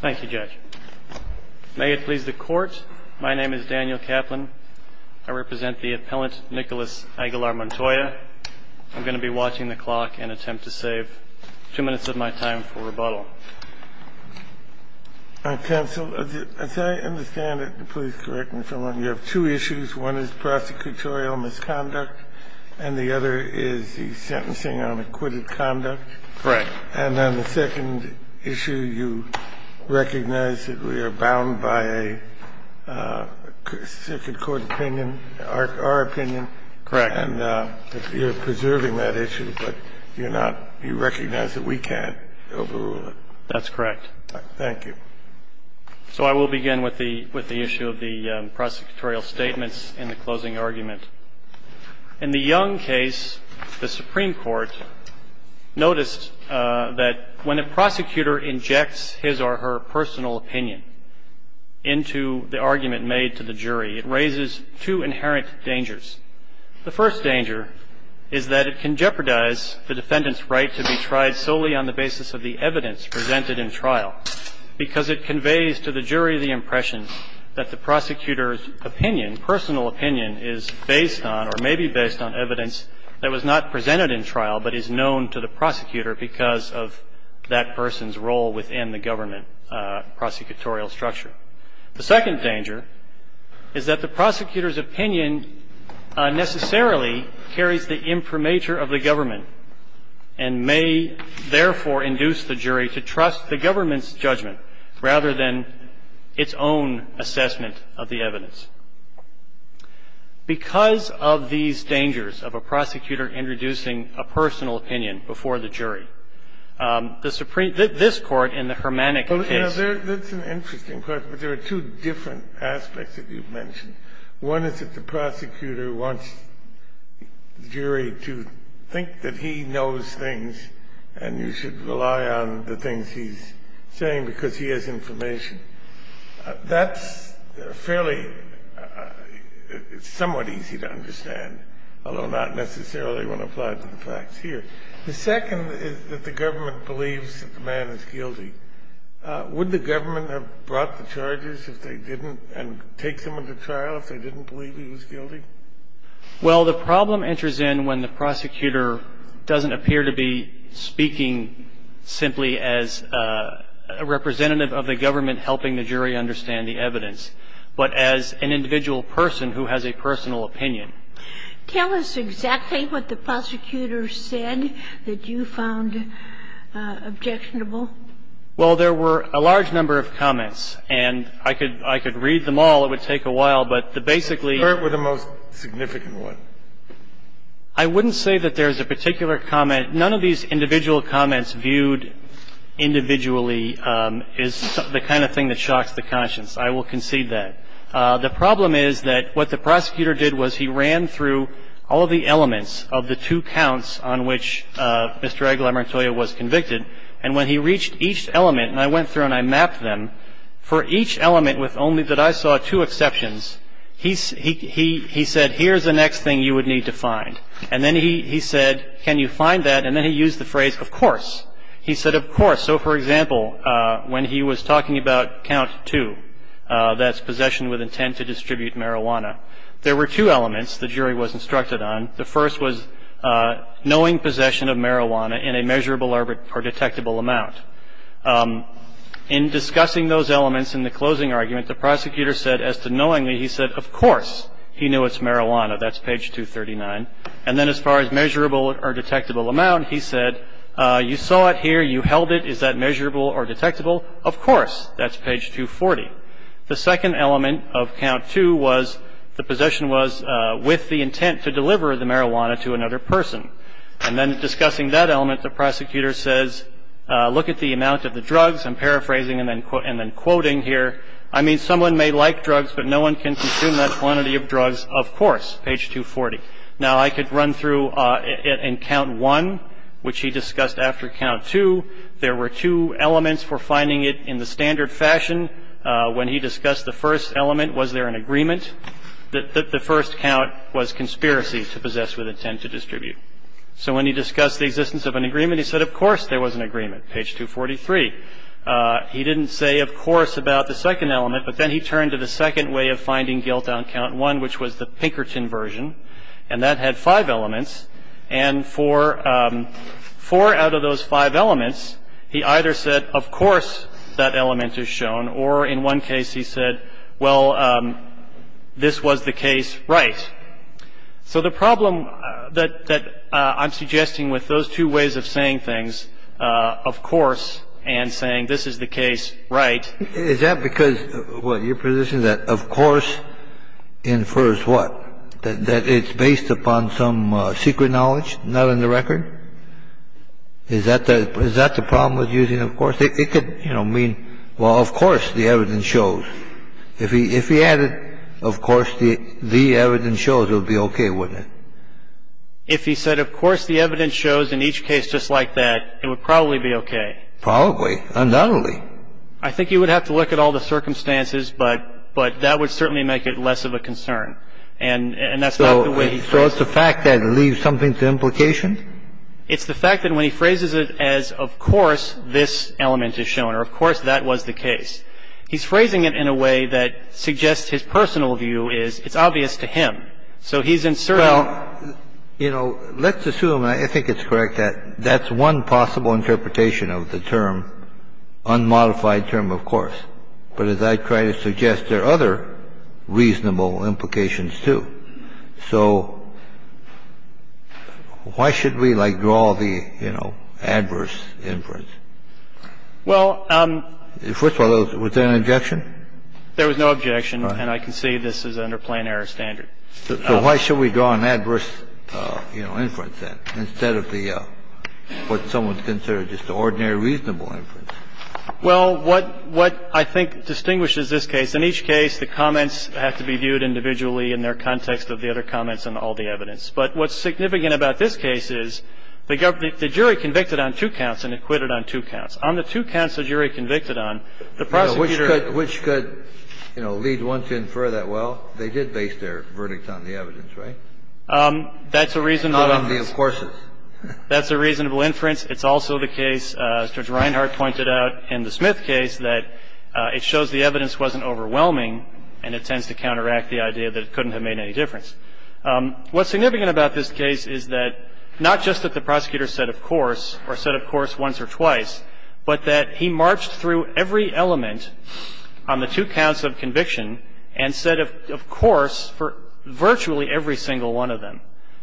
Thank you, Judge. May it please the Court, my name is Daniel Kaplan. I represent the appellant Nicolas Aguilar-Montoya. I'm going to be watching the clock and attempt to save two minutes of my time for rebuttal. Counsel, as I understand it, please correct me if I'm wrong, you have two issues. One is prosecutorial misconduct and the other is the sentencing on acquitted conduct. Correct. And on the second issue, you recognize that we are bound by a circuit court opinion, our opinion. Correct. And you're preserving that issue, but you're not – you recognize that we can't overrule it. That's correct. Thank you. So I will begin with the issue of the prosecutorial statements in the closing argument. In the Young case, the Supreme Court noticed that when a prosecutor injects his or her personal opinion into the argument made to the jury, it raises two inherent dangers. The first danger is that it can jeopardize the defendant's right to be tried solely on the basis of the evidence presented in trial, because it conveys to the jury the impression that the prosecutor's opinion, personal opinion, is based on or may be based on evidence that was not presented in trial but is known to the prosecutor because of that person's role within the government prosecutorial structure. The second danger is that the prosecutor's opinion necessarily carries the imprimatur of the government and may therefore induce the jury to trust the government's judgment rather than its own assessment of the evidence. Because of these dangers of a prosecutor introducing a personal opinion before the jury, the Supreme – this Court in the Hermanic case – Well, that's an interesting question, but there are two different aspects that you've mentioned. One is that the prosecutor wants the jury to think that he knows things and you should rely on the things he's saying because he has information. That's fairly – it's somewhat easy to understand, although not necessarily when applied to the facts here. The second is that the government believes that the man is guilty. Would the government have brought the charges if they didn't and take him into trial if they didn't believe he was guilty? Well, the problem enters in when the prosecutor doesn't appear to be speaking simply as a representative of the government helping the jury understand the evidence, but as an individual person who has a personal opinion. Tell us exactly what the prosecutor said that you found objectionable. Well, there were a large number of comments, and I could – I could read them all. It would take a while, but the basically – What were the most significant ones? I wouldn't say that there's a particular comment. None of these individual comments viewed individually is the kind of thing that shocks the conscience. I will concede that. The problem is that what the prosecutor did was he ran through all of the elements of the two counts on which Mr. Aguilar Montoya was convicted. And when he reached each element, and I went through and I mapped them, for each element with only – that I saw two exceptions, he said, here's the next thing you would need to find. And then he said, can you find that? And then he used the phrase, of course. He said, of course. So, for example, when he was talking about count two, that's possession with intent to distribute marijuana, there were two elements the jury was instructed on. The first was knowing possession of marijuana in a measurable or detectable amount. In discussing those elements in the closing argument, the prosecutor said, as to knowingly, he said, of course he knew it's marijuana. That's page 239. And then as far as measurable or detectable amount, he said, you saw it here, you held it. Is that measurable or detectable? Of course. That's page 240. The second element of count two was the possession was with the intent to deliver the marijuana to another person. And then discussing that element, the prosecutor says, look at the amount of the drugs. I'm paraphrasing and then quoting here. I mean, someone may like drugs, but no one can consume that quantity of drugs. Of course. Page 240. Now, I could run through in count one, which he discussed after count two, there were two elements for finding it in the standard fashion. When he discussed the first element, was there an agreement? The first count was conspiracy to possess with intent to distribute. So when he discussed the existence of an agreement, he said, of course there was an agreement. Page 243. He didn't say, of course, about the second element, but then he turned to the second way of finding guilt on count one, which was the Pinkerton version. And that had five elements. And for four out of those five elements, he either said, of course that element is shown, or in one case he said, well, this was the case, right. So the problem that I'm suggesting with those two ways of saying things, of course, and saying this is the case, right. Is that because, what, your position that of course infers what? That it's based upon some secret knowledge, not on the record? Is that the problem with using of course? It could, you know, mean, well, of course the evidence shows. If he added of course the evidence shows, it would be okay, wouldn't it? If he said of course the evidence shows in each case just like that, it would probably be okay. Probably. Undoubtedly. I think you would have to look at all the circumstances, but that would certainly make it less of a concern. And that's not the way he says it. So it's the fact that it leaves something to implication? It's the fact that when he phrases it as of course this element is shown, or of course that was the case, he's phrasing it in a way that suggests his personal view is it's obvious to him. So he's inserting. Well, you know, let's assume, and I think it's correct, that that's one possible interpretation of the term unmodified term, of course. But as I try to suggest, there are other reasonable implications, too. So why should we, like, draw the, you know, adverse inference? Well, first of all, was there an objection? There was no objection. And I can say this is under plan air standard. So why should we draw an adverse, you know, inference, then, instead of the, what someone considers just an ordinary reasonable inference? Well, what I think distinguishes this case, in each case the comments have to be viewed individually in their context of the other comments and all the evidence. But what's significant about this case is the jury convicted on two counts and acquitted on two counts. On the two counts the jury convicted on, the prosecutor ---- Which could, you know, lead one to infer that, well, they did base their verdict on the evidence, right? That's a reasonable inference. Not on the of courses. That's a reasonable inference. It's also the case, Judge Reinhart pointed out in the Smith case, that it shows the evidence wasn't overwhelming and it tends to counteract the idea that it couldn't have made any difference. What's significant about this case is that not just that the prosecutor said of course or said of course once or twice, but that he marched through every element on the two counts of conviction and said of course for virtually every single one of them.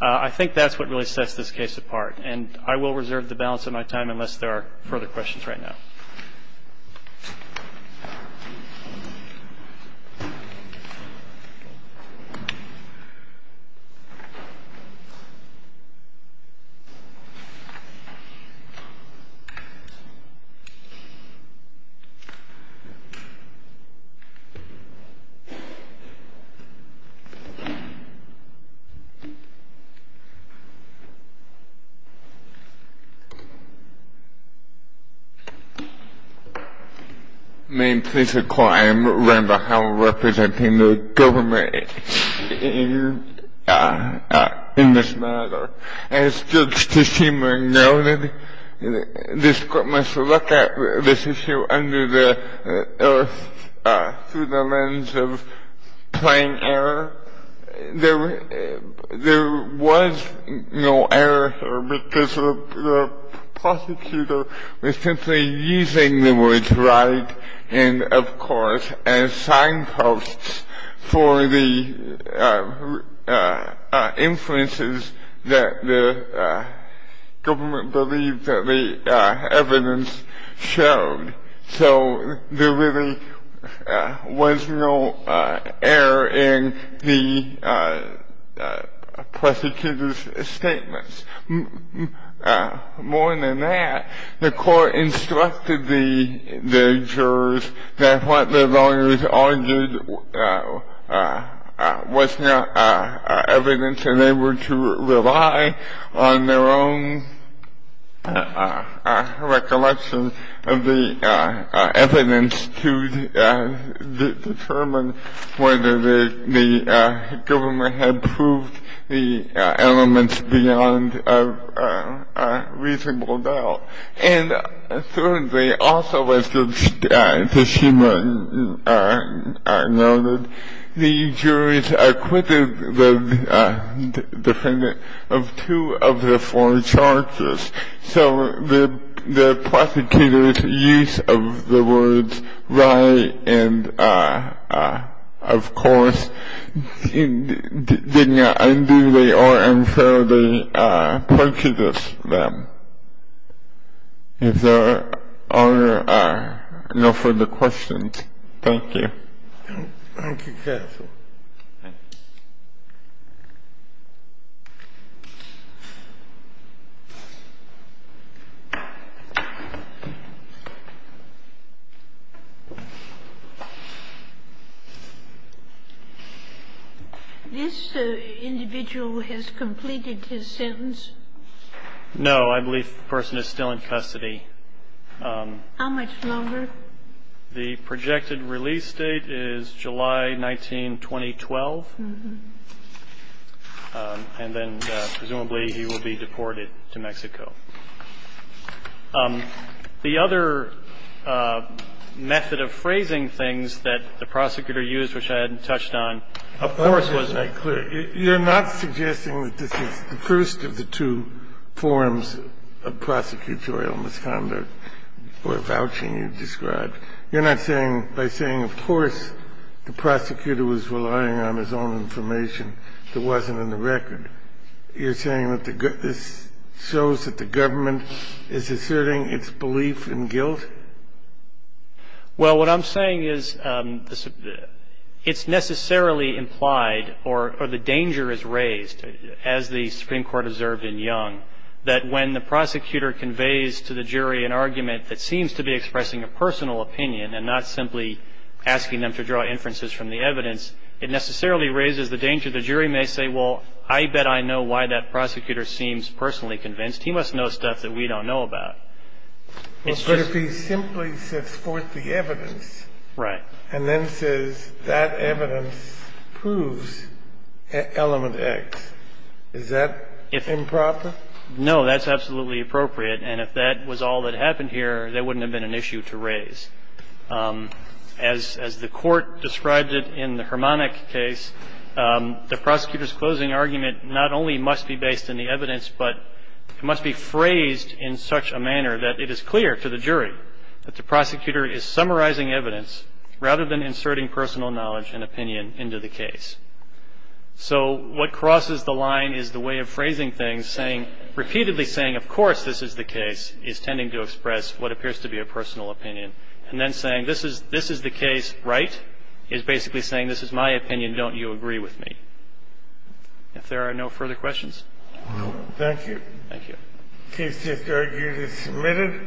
I think that's what really sets this case apart. And I will reserve the balance of my time unless there are further questions right now. Thank you. Ma'am, please recall I am Randall Howard representing the government in this matter. As Judge Teshima noted, this court must look at this issue through the lens of playing error. There was no error here because the prosecutor was simply using the words right and of course as signposts for the inferences that the government believed that the evidence showed. So there really was no error in the prosecutor's statements. More than that, the court instructed the jurors that what the lawyers argued was not evidence and they were to rely on their own recollection of the evidence to determine whether the government had proved the elements beyond a reasonable doubt. And thirdly, also as Judge Teshima noted, the jurors acquitted the defendant of two of the four charges. So the prosecutor's use of the words right and of course did not unduly or unfairly prejudice them. If there are no further questions, thank you. Thank you, counsel. This individual has completed his sentence? No. I believe the person is still in custody. How much longer? The projected release date is July 19, 2012. And then presumably he will be deported to Mexico. The other method of phrasing things that the prosecutor used, which I hadn't touched on, of course was a clear you're not suggesting that this is the first of the two forms of prosecutorial misconduct or vouching you described. You're not saying by saying of course the prosecutor was relying on his own information that wasn't in the record. You're saying that this shows that the government is asserting its belief in guilt? Well, what I'm saying is it's necessarily implied or the danger is raised, as the Supreme Court observed in Young, that when the prosecutor conveys to the jury an argument that seems to be expressing a personal opinion and not simply asking them to draw inferences from the evidence, it necessarily raises the danger the jury may say, well, I bet I know why that prosecutor seems personally convinced. He must know stuff that we don't know about. But if he simply sets forth the evidence and then says that evidence proves element X, is that improper? No, that's absolutely appropriate. And if that was all that happened here, that wouldn't have been an issue to raise. As the Court described it in the Harmonic case, the prosecutor's closing argument not only must be based in the evidence, but it must be phrased in such a manner that it is clear to the jury that the prosecutor is summarizing evidence rather than inserting personal knowledge and opinion into the case. So what crosses the line is the way of phrasing things, saying, repeatedly saying, of course this is the case, is tending to express what appears to be a personal opinion, and then saying this is the case, right, is basically saying this is my opinion, don't you agree with me? If there are no further questions. Thank you. Thank you. The case is submitted.